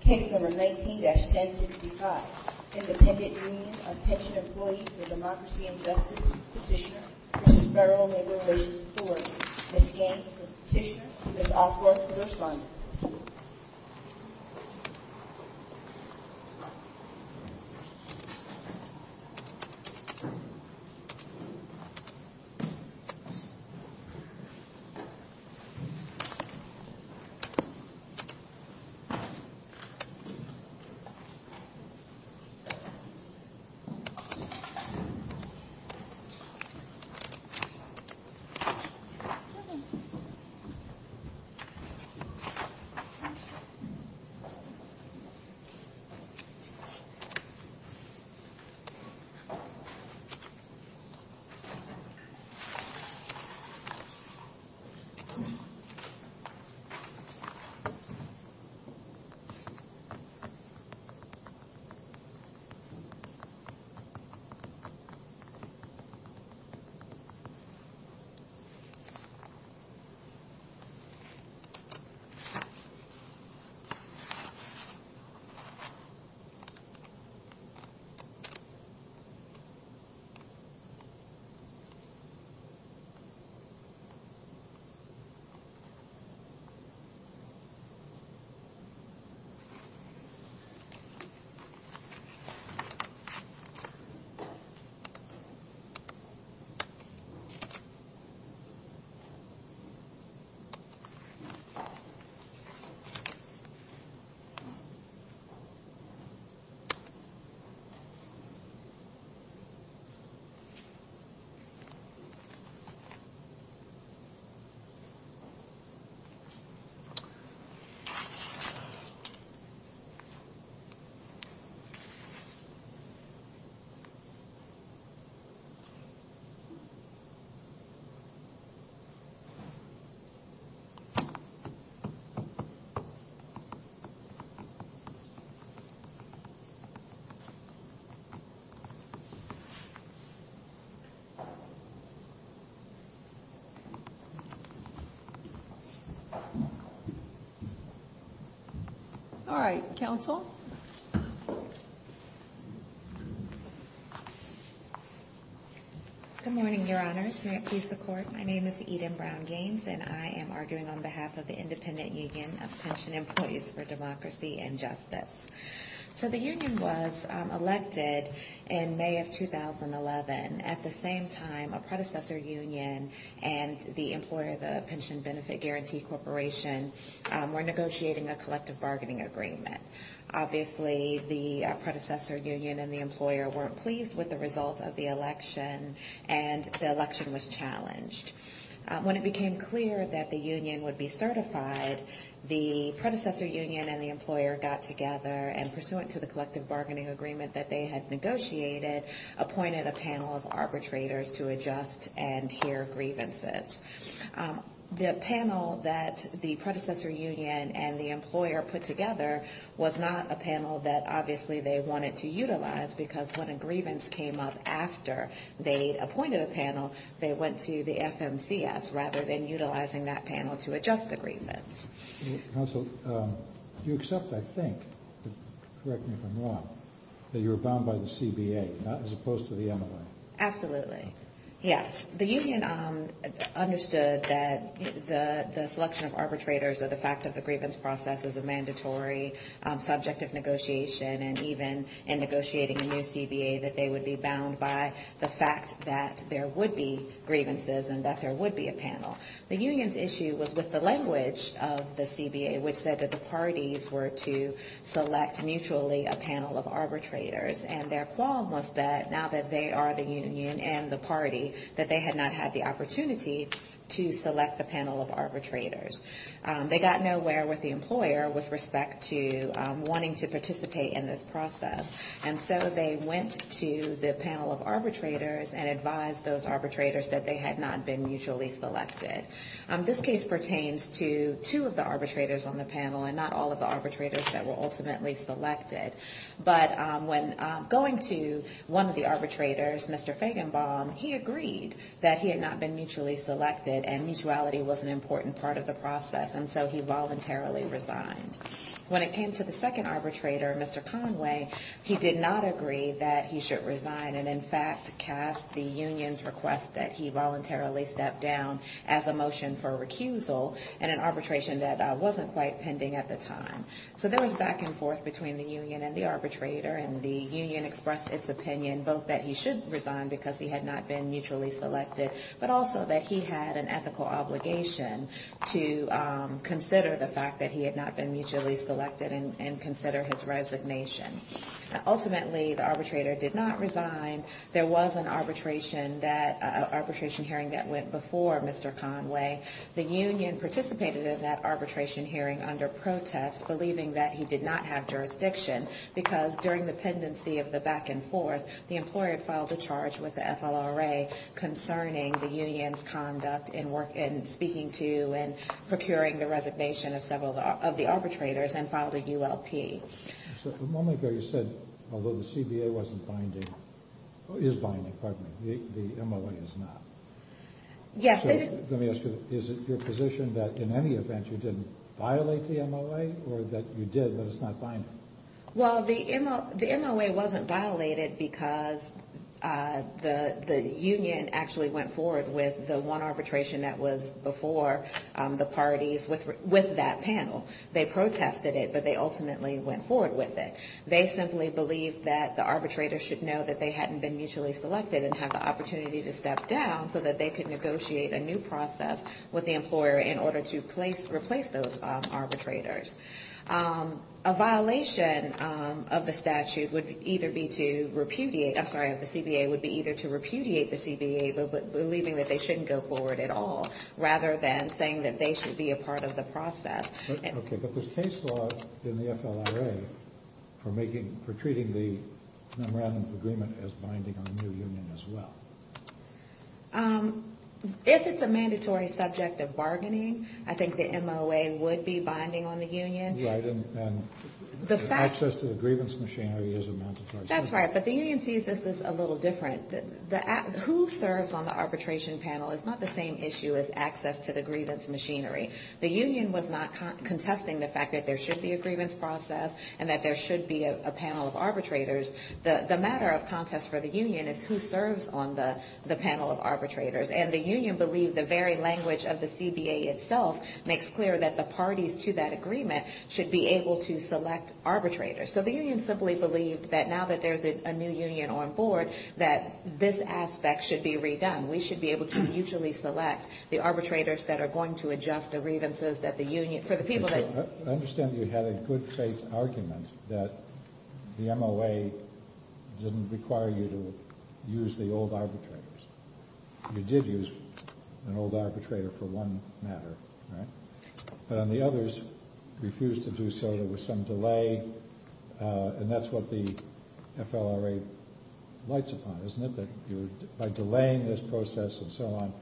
Case number 19-1065, Independent Union of Pension Employees for Democracy and Justice petitioner, Mrs. Federal Neighborhood Authority. Ms. Gaines for the petitioner, Ms. Osworth for the respondent. Case number 19-1065, Independent Union of Pension Employees for Democracy and Justice Case number 19-1065, Independent Union of Pension Employees for Democracy and Justice Case number 19-1065, Independent Union of Pension Employees for Democracy and Justice Case number 19-1065, Independent Union of Pension Employees for Democracy and Justice All right, counsel. Good morning, Your Honors. May it please the Court. My name is Eden Brown-Gaines, and I am arguing on behalf of the Independent Union of Pension Employees for Democracy and Justice. So the union was elected in May of 2011. At the same time, a predecessor union and the employer, the Pension Benefit Guarantee Corporation, were negotiating a collective bargaining agreement. Obviously, the predecessor union and the employer weren't pleased with the result of the election, and the election was challenged. When it became clear that the union would be certified, the predecessor union and the employer got together and, pursuant to the collective bargaining agreement that they had negotiated, appointed a panel of arbitrators to adjust and hear grievances. The panel that the predecessor union and the employer put together was not a panel that, obviously, they wanted to utilize, because when a grievance came up after they'd appointed a panel, they went to the FMCS rather than utilizing that panel to adjust the grievance. Counsel, you accept, I think, correct me if I'm wrong, that you were bound by the CBA, not as opposed to the MLA. Absolutely, yes. The union understood that the selection of arbitrators or the fact of the grievance process is a mandatory subject of negotiation, and even in negotiating a new CBA, that they would be bound by the fact that there would be grievances and that there would be a panel. The union's issue was with the language of the CBA, which said that the parties were to select mutually a panel of arbitrators, and their qualm was that, now that they are the union and the party, that they had not had the opportunity to select the panel of arbitrators. They got nowhere with the employer with respect to wanting to participate in this process, and so they went to the panel of arbitrators and advised those arbitrators that they had not been mutually selected. This case pertains to two of the arbitrators on the panel, and not all of the arbitrators that were ultimately selected. But when going to one of the arbitrators, Mr. Feigenbaum, he agreed that he had not been mutually selected, and mutuality was an important part of the process, and so he voluntarily resigned. When it came to the second arbitrator, Mr. Conway, he did not agree that he should resign and, in fact, cast the union's request that he voluntarily step down as a motion for recusal in an arbitration that wasn't quite pending at the time. So there was back and forth between the union and the arbitrator, and the union expressed its opinion, both that he should resign because he had not been mutually selected, but also that he had an ethical obligation to consider the fact that he had not been mutually selected and consider his resignation. Ultimately, the arbitrator did not resign. There was an arbitration hearing that went before Mr. Conway. The union participated in that arbitration hearing under protest, believing that he did not have jurisdiction, because during the pendency of the back and forth, the employer filed a charge with the FLRA concerning the union's conduct in speaking to and procuring the resignation of several of the arbitrators and filed a ULP. The moment ago you said, although the CBA wasn't binding, is binding, pardon me, the MOA is not. Yes, it is. Let me ask you, is it your position that in any event you didn't violate the MOA or that you did, but it's not binding? Well, the MOA wasn't violated because the union actually went forward with the one arbitration that was before the parties with that panel. They protested it, but they ultimately went forward with it. They simply believed that the arbitrator should know that they hadn't been mutually selected and had the opportunity to step down so that they could negotiate a new process with the employer in order to replace those arbitrators. A violation of the statute would either be to repudiate, I'm sorry, of the CBA would be either to repudiate the CBA believing that they shouldn't go forward at all, rather than saying that they should be a part of the process. Okay, but there's case law in the FLRA for treating the memorandum of agreement as binding on the new union as well. If it's a mandatory subject of bargaining, I think the MOA would be binding on the union. Right, and access to the grievance machinery is a mandatory subject. That's right, but the union sees this as a little different. Who serves on the arbitration panel is not the same issue as access to the grievance machinery. The union was not contesting the fact that there should be a grievance process and that there should be a panel of arbitrators. The matter of contest for the union is who serves on the panel of arbitrators. And the union believed the very language of the CBA itself makes clear that the parties to that agreement should be able to select arbitrators. So the union simply believed that now that there's a new union on board, that this aspect should be redone. We should be able to mutually select the arbitrators that are going to adjust the grievances that the union, for the people that… I understand you had a good faith argument that the MOA didn't require you to use the old arbitrators. You did use an old arbitrator for one matter, right? And the others refused to do so. There was some delay. And that's what the FLRA lights upon, isn't it? That by delaying this process and so on,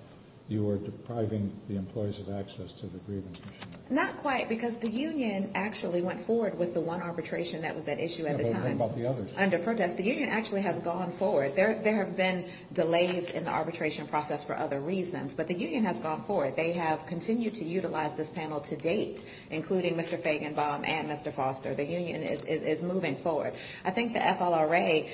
you were depriving the employees of access to the grievance machinery. Not quite, because the union actually went forward with the one arbitration that was at issue at the time. I've heard about the others. Under protest. The union actually has gone forward. There have been delays in the arbitration process for other reasons, but the union has gone forward. They have continued to utilize this panel to date, including Mr. Fagenbaum and Mr. Foster. The union is moving forward. I think the FLRA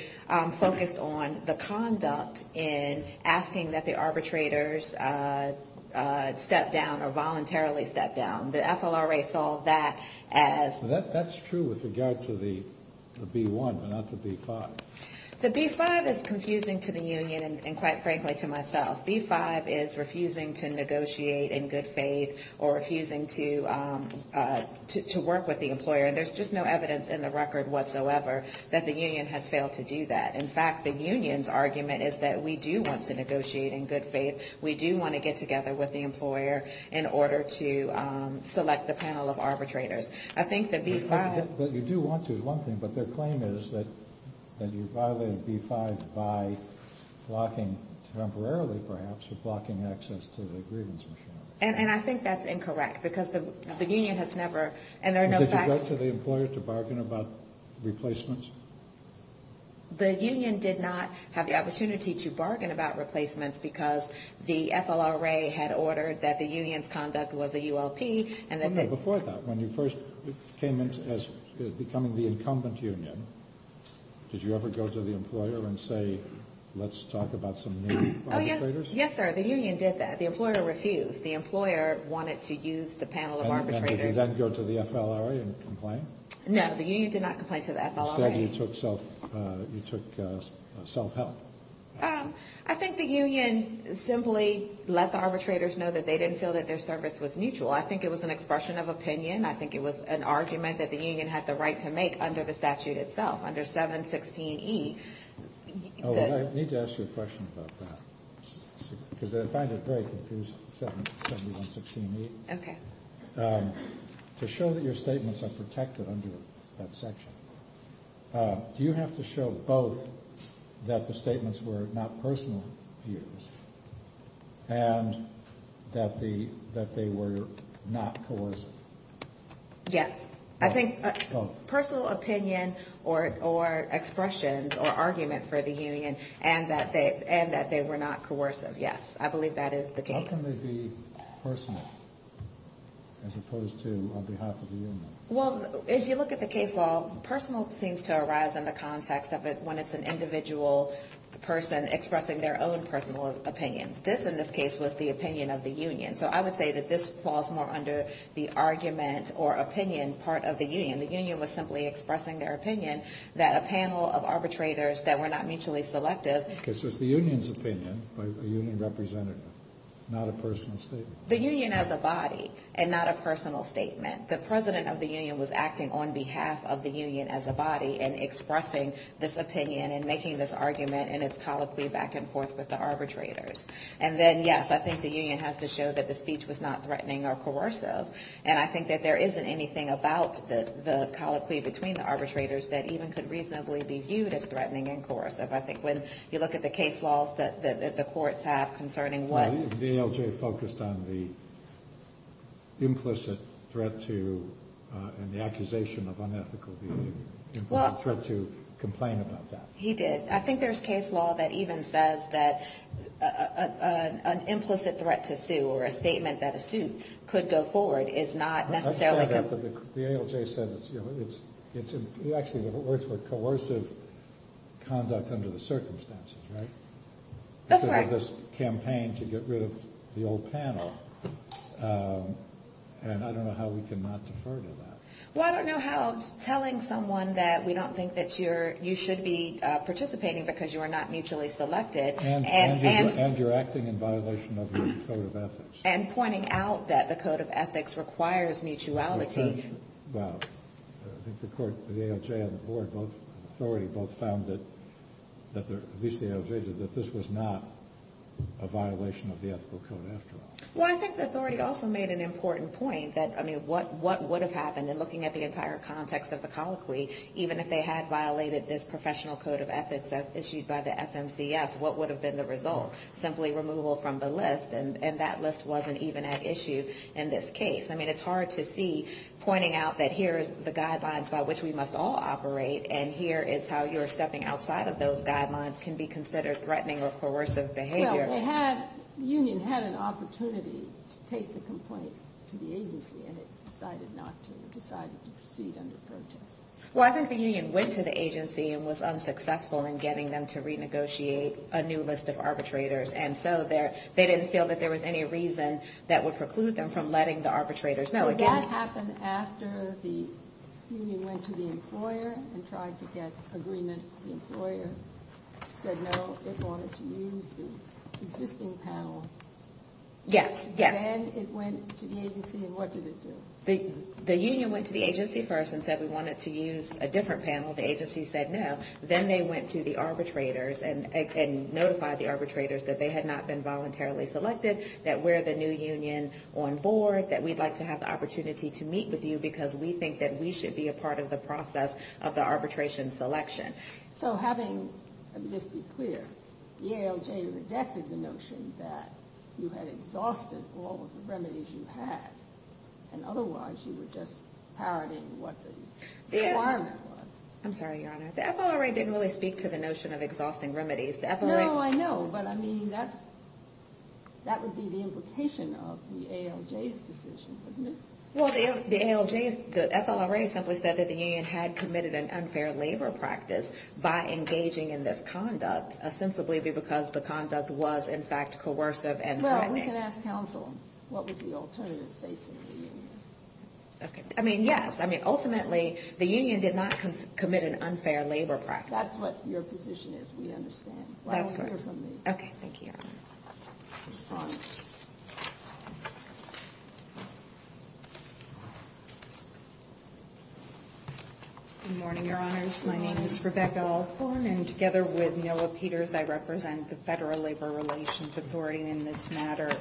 focused on the conduct in asking that the arbitrators step down or voluntarily step down. The FLRA saw that as… That's true with regard to the B-1, but not the B-5. The B-5 is confusing to the union and, quite frankly, to myself. B-5 is refusing to negotiate in good faith or refusing to work with the employer. And there's just no evidence in the record whatsoever that the union has failed to do that. In fact, the union's argument is that we do want to negotiate in good faith. We do want to get together with the employer in order to select the panel of arbitrators. I think the B-5… But you do want to, is one thing, but their claim is that you violated B-5 by blocking temporarily, perhaps, or blocking access to the grievance machinery. And I think that's incorrect, because the union has never… Did you go to the employer to bargain about replacements? The union did not have the opportunity to bargain about replacements, because the FLRA had ordered that the union's conduct was a ULP. Before that, when you first came in as becoming the incumbent union, did you ever go to the employer and say, let's talk about some new arbitrators? Yes, sir. The union did that. The employer refused. The employer wanted to use the panel of arbitrators. Did you then go to the FLRA and complain? No, the union did not complain to the FLRA. Instead, you took self-help? I think the union simply let the arbitrators know that they didn't feel that their service was mutual. I think it was an expression of opinion. I think it was an argument that the union had the right to make under the statute itself, under 716E. I need to ask you a question about that, because I find it very confusing, 716E. To show that your statements are protected under that section, do you have to show both that the statements were not personal views and that they were not coercive? Yes. I think personal opinion or expressions or argument for the union and that they were not coercive, yes. I believe that is the case. How can they be personal as opposed to on behalf of the union? Well, if you look at the case law, personal seems to arise in the context of it when it's an individual person expressing their own personal opinions. This, in this case, was the opinion of the union. So I would say that this falls more under the argument or opinion part of the union. The union was simply expressing their opinion that a panel of arbitrators that were not mutually selective— The union as a body and not a personal statement. The president of the union was acting on behalf of the union as a body and expressing this opinion and making this argument and its colloquy back and forth with the arbitrators. And then, yes, I think the union has to show that the speech was not threatening or coercive. And I think that there isn't anything about the colloquy between the arbitrators that even could reasonably be viewed as threatening and coercive. I think when you look at the case laws that the courts have concerning what— The ALJ focused on the implicit threat to and the accusation of unethical view. Well— The threat to complain about that. He did. I think there's case law that even says that an implicit threat to sue or a statement that a suit could go forward is not necessarily— The ALJ said it's—actually, it works for coercive conduct under the circumstances, right? That's right. That's part of this campaign to get rid of the old panel, and I don't know how we can not defer to that. Well, I don't know how telling someone that we don't think that you should be participating because you are not mutually selected and— And you're acting in violation of your code of ethics. And pointing out that the code of ethics requires mutuality. Well, I think the court—the ALJ and the board, both—authority both found that—at least the ALJ did—that this was not a violation of the ethical code after all. Well, I think the authority also made an important point that, I mean, what would have happened? And looking at the entire context of the colloquy, even if they had violated this professional code of ethics as issued by the FMCS, what would have been the result? Simply removal from the list, and that list wasn't even at issue in this case. I mean, it's hard to see pointing out that here is the guidelines by which we must all operate, and here is how you're stepping outside of those guidelines can be considered threatening or coercive behavior. Well, they had—the union had an opportunity to take the complaint to the agency, and it decided not to. It decided to proceed under protest. Well, I think the union went to the agency and was unsuccessful in getting them to renegotiate a new list of arbitrators. And so they didn't feel that there was any reason that would preclude them from letting the arbitrators know. Did that happen after the union went to the employer and tried to get agreement? The employer said no, they wanted to use the existing panel. Yes, yes. Then it went to the agency, and what did it do? The union went to the agency first and said we wanted to use a different panel. The agency said no. Then they went to the arbitrators and notified the arbitrators that they had not been voluntarily selected, that we're the new union on board, that we'd like to have the opportunity to meet with you because we think that we should be a part of the process of the arbitration selection. So having—let me just be clear. The ALJ rejected the notion that you had exhausted all of the remedies you had, and otherwise you were just parroting what the requirement was. I'm sorry, Your Honor. The FLRA didn't really speak to the notion of exhausting remedies. No, I know, but, I mean, that would be the implication of the ALJ's decision, wouldn't it? Well, the ALJ's—the FLRA simply said that the union had committed an unfair labor practice by engaging in this conduct, ostensibly because the conduct was, in fact, coercive and threatening. We can ask counsel what was the alternative facing the union. I mean, yes. I mean, ultimately, the union did not commit an unfair labor practice. That's what your position is. We understand. That's correct. Well, hear from me. Okay. Thank you, Your Honor. Good morning, Your Honors. My name is Rebecca Althorn, and together with Noah Peters, I represent the Federal Labor Relations Authority in this matter.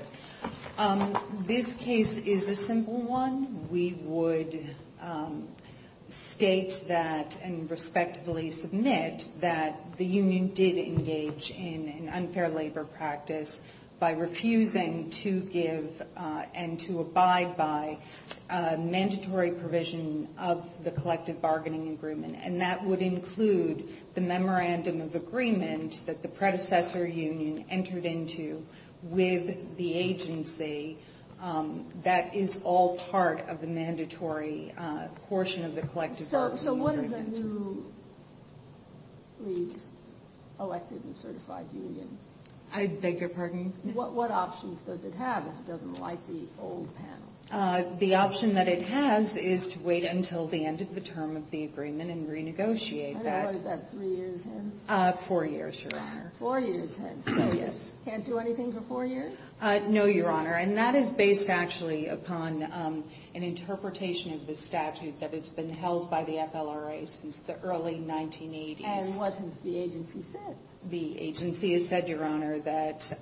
This case is a simple one. We would state that and respectively submit that the union did engage in an unfair labor practice by refusing to give and to abide by mandatory provision of the collective bargaining agreement, and that would include the memorandum of agreement that the predecessor union entered into with the agency that is all part of the mandatory portion of the collective bargaining agreement. So what is a newly elected and certified union? I beg your pardon? What options does it have if it doesn't like the old panel? The option that it has is to wait until the end of the term of the agreement and renegotiate that. How long is that? Three years hence? Four years, Your Honor. Four years hence. Oh, yes. Can't do anything for four years? No, Your Honor. And that is based actually upon an interpretation of the statute that has been held by the FLRA since the early 1980s. And what has the agency said? The agency has said, Your Honor, that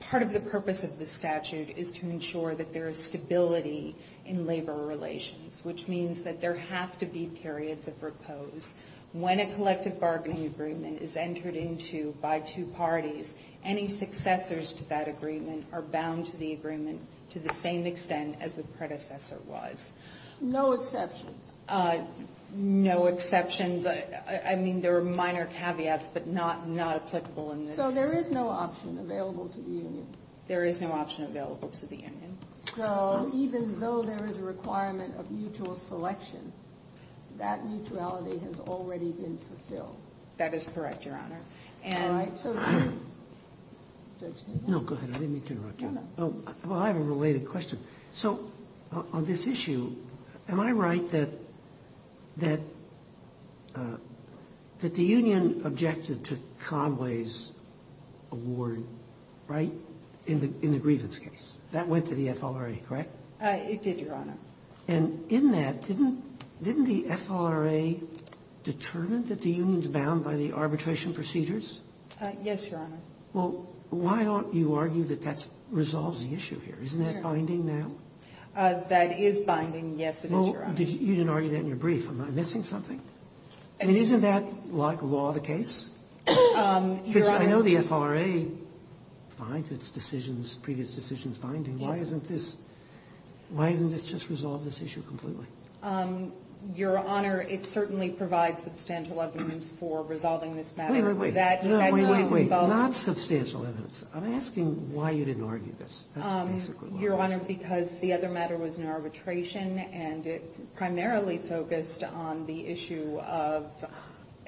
part of the purpose of the statute is to ensure that there is stability in labor relations, which means that there have to be periods of repose. When a collective bargaining agreement is entered into by two parties, any successors to that agreement are bound to the agreement to the same extent as the predecessor was. No exceptions? No exceptions. I mean, there are minor caveats, but not applicable in this. So there is no option available to the union? There is no option available to the union. So even though there is a requirement of mutual selection, that mutuality has already been fulfilled? That is correct, Your Honor. All right. So can I? No, go ahead. I didn't mean to interrupt you. No, no. Well, I have a related question. So on this issue, am I right that the union objected to Conway's award, right, in the grievance case? That went to the FLRA, correct? It did, Your Honor. And in that, didn't the FLRA determine that the union is bound by the arbitration procedures? Yes, Your Honor. Well, why don't you argue that that resolves the issue here? Isn't that binding now? That is binding, yes, it is, Your Honor. Well, you didn't argue that in your brief. Am I missing something? I mean, isn't that, like law, the case? Because I know the FLRA finds its decisions, previous decisions binding. Why isn't this just resolve this issue completely? Your Honor, it certainly provides substantial evidence for resolving this matter. Wait, wait, wait. Not substantial evidence. I'm asking why you didn't argue this. That's basically what I'm asking. Your Honor, because the other matter was in arbitration, and it primarily focused on the issue of the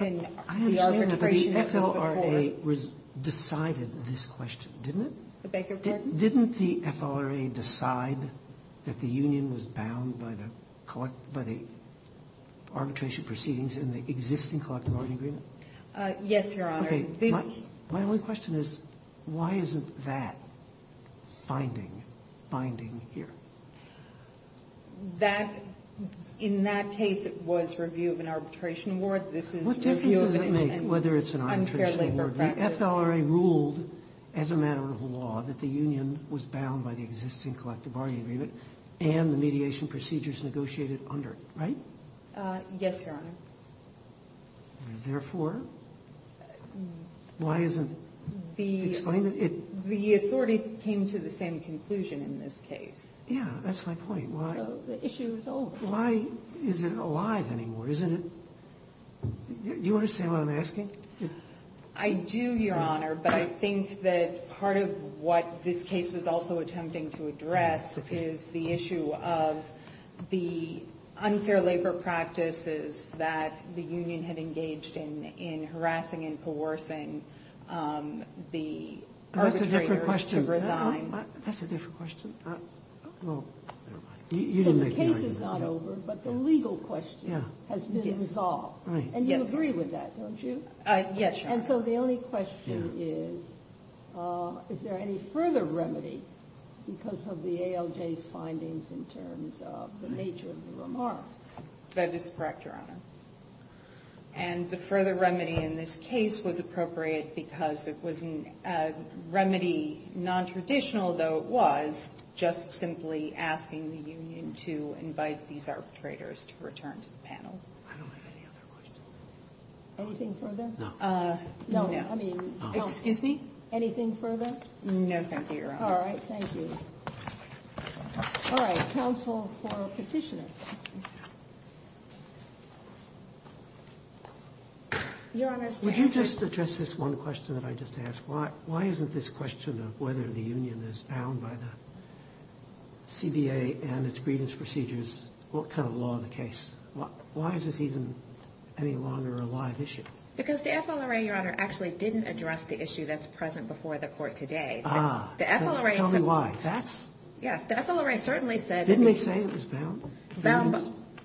arbitration. I understand that the FLRA decided this question, didn't it? I beg your pardon? Didn't the FLRA decide that the union was bound by the arbitration proceedings in the existing collective bargaining agreement? Yes, Your Honor. Okay. My only question is, why isn't that finding binding here? That, in that case, it was review of an arbitration award. What difference does it make whether it's an arbitration award? The FLRA ruled as a matter of law that the union was bound by the existing collective bargaining agreement and the mediation procedures negotiated under it, right? Yes, Your Honor. Therefore, why isn't it explained? The authority came to the same conclusion in this case. Yeah, that's my point. Why? The issue is over. Why is it alive anymore? Isn't it? Do you understand what I'm asking? I do, Your Honor, but I think that part of what this case was also attempting to address is the issue of the unfair labor practices that the union had engaged in, in harassing and coercing the arbitrators to resign. That's a different question. That's a different question. Well, you didn't make the argument. The case is not over, but the legal question has been solved. Right. And you agree with that, don't you? Yes, Your Honor. And so the only question is, is there any further remedy because of the ALJ's findings in terms of the nature of the remarks? That is correct, Your Honor. And the further remedy in this case was appropriate because it was a remedy nontraditional, though it was, just simply asking the union to invite these arbitrators to return to the panel. I don't have any other questions. Anything further? No. No. Excuse me? Anything further? No, thank you, Your Honor. All right. Thank you. All right. Counsel for Petitioner. Your Honor's to answer. Would you just address this one question that I just asked? Why isn't this question of whether the union is bound by the CBA and its grievance procedures kind of law of the case? Why is this even any longer a live issue? Because the FLRA, Your Honor, actually didn't address the issue that's present before the court today. Ah. Tell me why. That's... Yes, the FLRA certainly said... Didn't they say it was bound?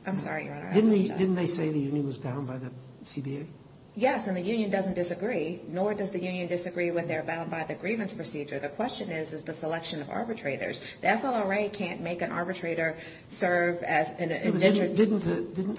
I'm sorry, Your Honor. Didn't they say the union was bound by the CBA? Yes, and the union doesn't disagree, nor does the union disagree when they're bound by the grievance procedure. The question is, is the selection of arbitrators. The FLRA can't make an arbitrator serve as an...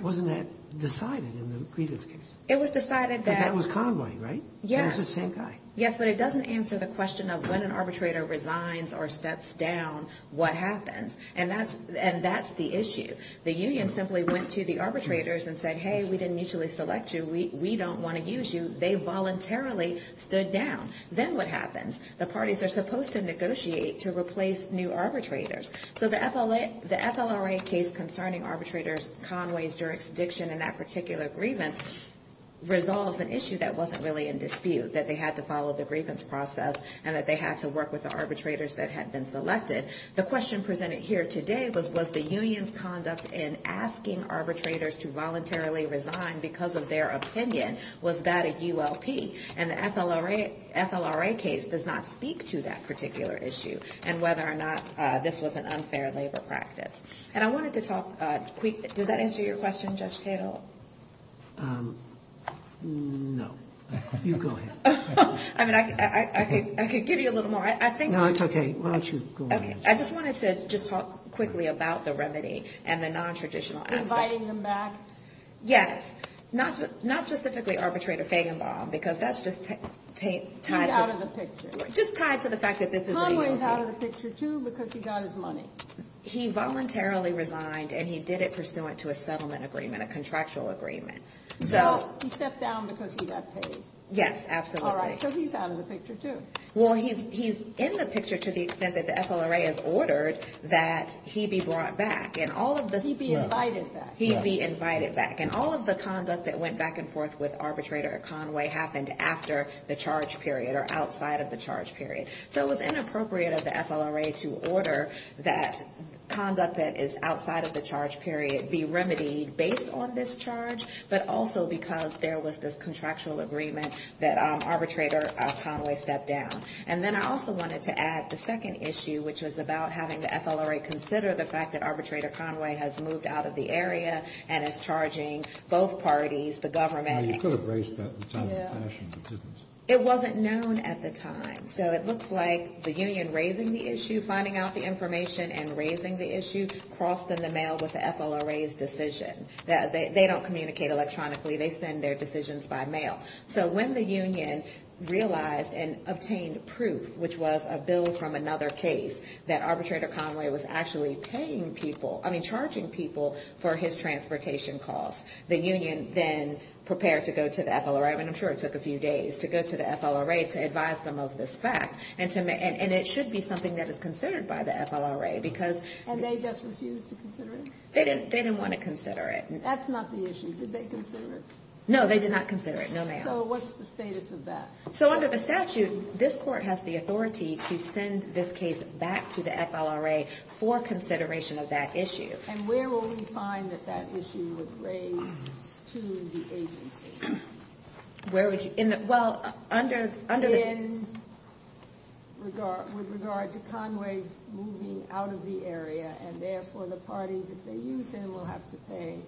Wasn't that decided in the grievance case? It was decided that... Because that was Conway, right? Yes. It was the same guy. Yes, but it doesn't answer the question of when an arbitrator resigns or steps down, what happens? And that's the issue. The union simply went to the arbitrators and said, hey, we didn't mutually select you. We don't want to use you. They voluntarily stood down. Then what happens? The parties are supposed to negotiate to replace new arbitrators. So the FLRA case concerning arbitrators, Conway's jurisdiction in that particular grievance resolves an issue that wasn't really in dispute, that they had to follow the grievance process and that they had to work with the arbitrators that had been selected. The question presented here today was, was the union's conduct in asking arbitrators to voluntarily resign because of their opinion, was that a ULP? And the FLRA case does not speak to that particular issue and whether or not this was an unfair labor practice. And I wanted to talk, does that answer your question, Judge Tatel? No. You go ahead. I mean, I could give you a little more. No, it's okay. Why don't you go ahead. I just wanted to just talk quickly about the remedy and the nontraditional aspect. Inviting him back? Yes. Not specifically arbitrator Fagenbaum, because that's just tied to the fact that this is an ULP. Conway is out of the picture, too, because he got his money. He voluntarily resigned and he did it pursuant to a settlement agreement, a contractual agreement. He stepped down because he got paid. Yes, absolutely. All right. So he's out of the picture, too. Well, he's in the picture to the extent that the FLRA has ordered that he be brought back. He be invited back. He be invited back. And all of the conduct that went back and forth with arbitrator Conway happened after the charge period or outside of the charge period. So it was inappropriate of the FLRA to order that conduct that is outside of the charge period be remedied based on this charge, but also because there was this contractual agreement that arbitrator Conway stepped down. And then I also wanted to add the second issue, which was about having the FLRA consider the fact that arbitrator Conway has moved out of the area and is charging both parties, the government. You could have raised that at the time of the fashion, but you didn't. It wasn't known at the time. So it looks like the union raising the issue, finding out the information and raising the issue, crossed in the mail with the FLRA's decision. They don't communicate electronically. They send their decisions by mail. So when the union realized and obtained proof, which was a bill from another case, that arbitrator Conway was actually paying people, I mean charging people for his transportation costs, the union then prepared to go to the FLRA, and I'm And it should be something that is considered by the FLRA because And they just refused to consider it? They didn't want to consider it. That's not the issue. Did they consider it? No, they did not consider it. No, ma'am. So what's the status of that? So under the statute, this court has the authority to send this case back to the FLRA for consideration of that issue. And where will we find that that issue was raised to the agency? Where would you? Well, under the In regard to Conway's moving out of the area, and therefore the parties, if they use him, will have to pay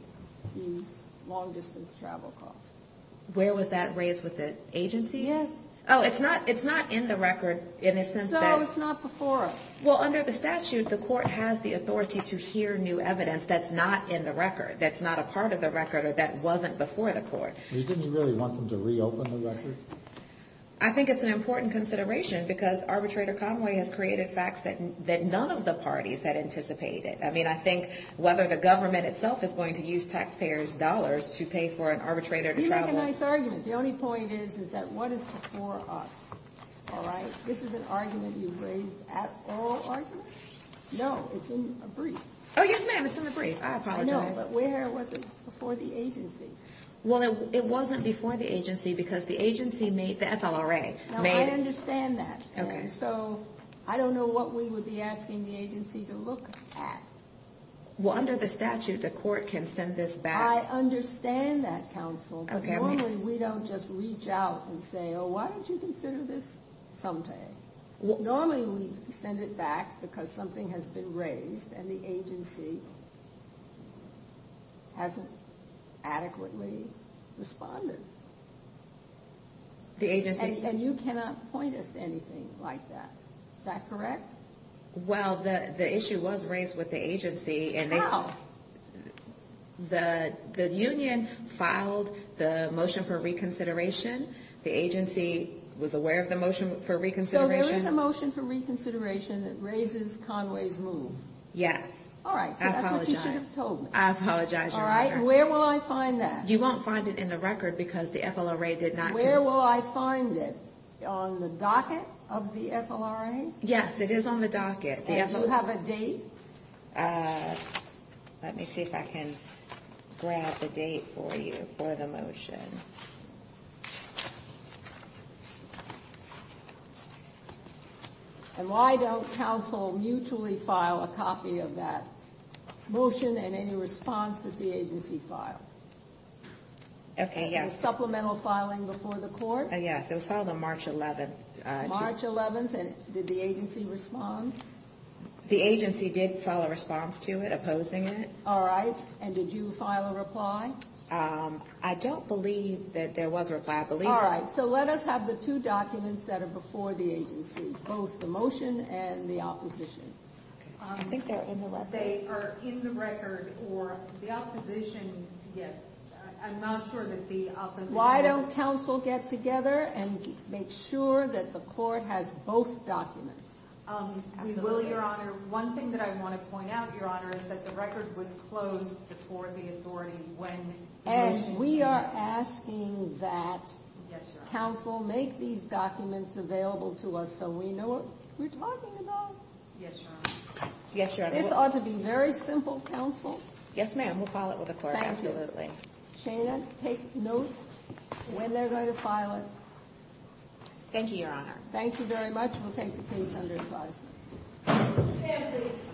these long-distance travel costs. Where was that raised with the agency? Yes. Oh, it's not in the record in the sense that So it's not before us. Well, under the statute, the court has the authority to hear new evidence that's not in the record, that's not a part of the record, or that wasn't before the agency, didn't you really want them to reopen the record? I think it's an important consideration because Arbitrator Conway has created facts that none of the parties had anticipated. I mean, I think whether the government itself is going to use taxpayers' dollars to pay for an arbitrator to travel You make a nice argument. The only point is, is that what is before us? All right? This is an argument you've raised at all arguments? No, it's in a brief. Oh, yes, ma'am. It's in the brief. I apologize. I know, but where was it before the agency? Well, it wasn't before the agency because the agency made the FLRA. Now, I understand that, and so I don't know what we would be asking the agency to look at. Well, under the statute, the court can send this back. I understand that, counsel, but normally we don't just reach out and say, oh, why don't you consider this someday? Normally we send it back because something has been raised, and the agency hasn't adequately responded. And you cannot point us to anything like that. Is that correct? Well, the issue was raised with the agency. How? The union filed the motion for reconsideration. The agency was aware of the motion for reconsideration. The motion raises Conway's move. Yes. All right, so that's what you should have told me. I apologize, Your Honor. All right, and where will I find that? You won't find it in the record because the FLRA did not. Where will I find it? On the docket of the FLRA? Yes, it is on the docket. Do you have a date? Let me see if I can grab the date for you for the motion. And why don't counsel mutually file a copy of that motion and any response that the agency filed? Okay, yes. Was supplemental filing before the court? Yes, it was filed on March 11th. March 11th, and did the agency respond? The agency did file a response to it, opposing it. All right, and did you file a reply? I don't believe that there was a reply. All right, so let us have the two documents that are before the agency, both the motion and the opposition. I think they're in the record. They are in the record, or the opposition, yes. I'm not sure that the opposition. Why don't counsel get together and make sure that the court has both documents? We will, Your Honor. One thing that I want to point out, Your Honor, is that the record was closed before the authority when the motion was filed. And we are asking that counsel make these documents available to us so we know what we're talking about. Yes, Your Honor. This ought to be very simple, counsel. Yes, ma'am. We'll file it with the court, absolutely. Thank you. Shana, take notes when they're going to file it. Thank you, Your Honor. Thank you very much. We'll take the case under advisement. Thank you.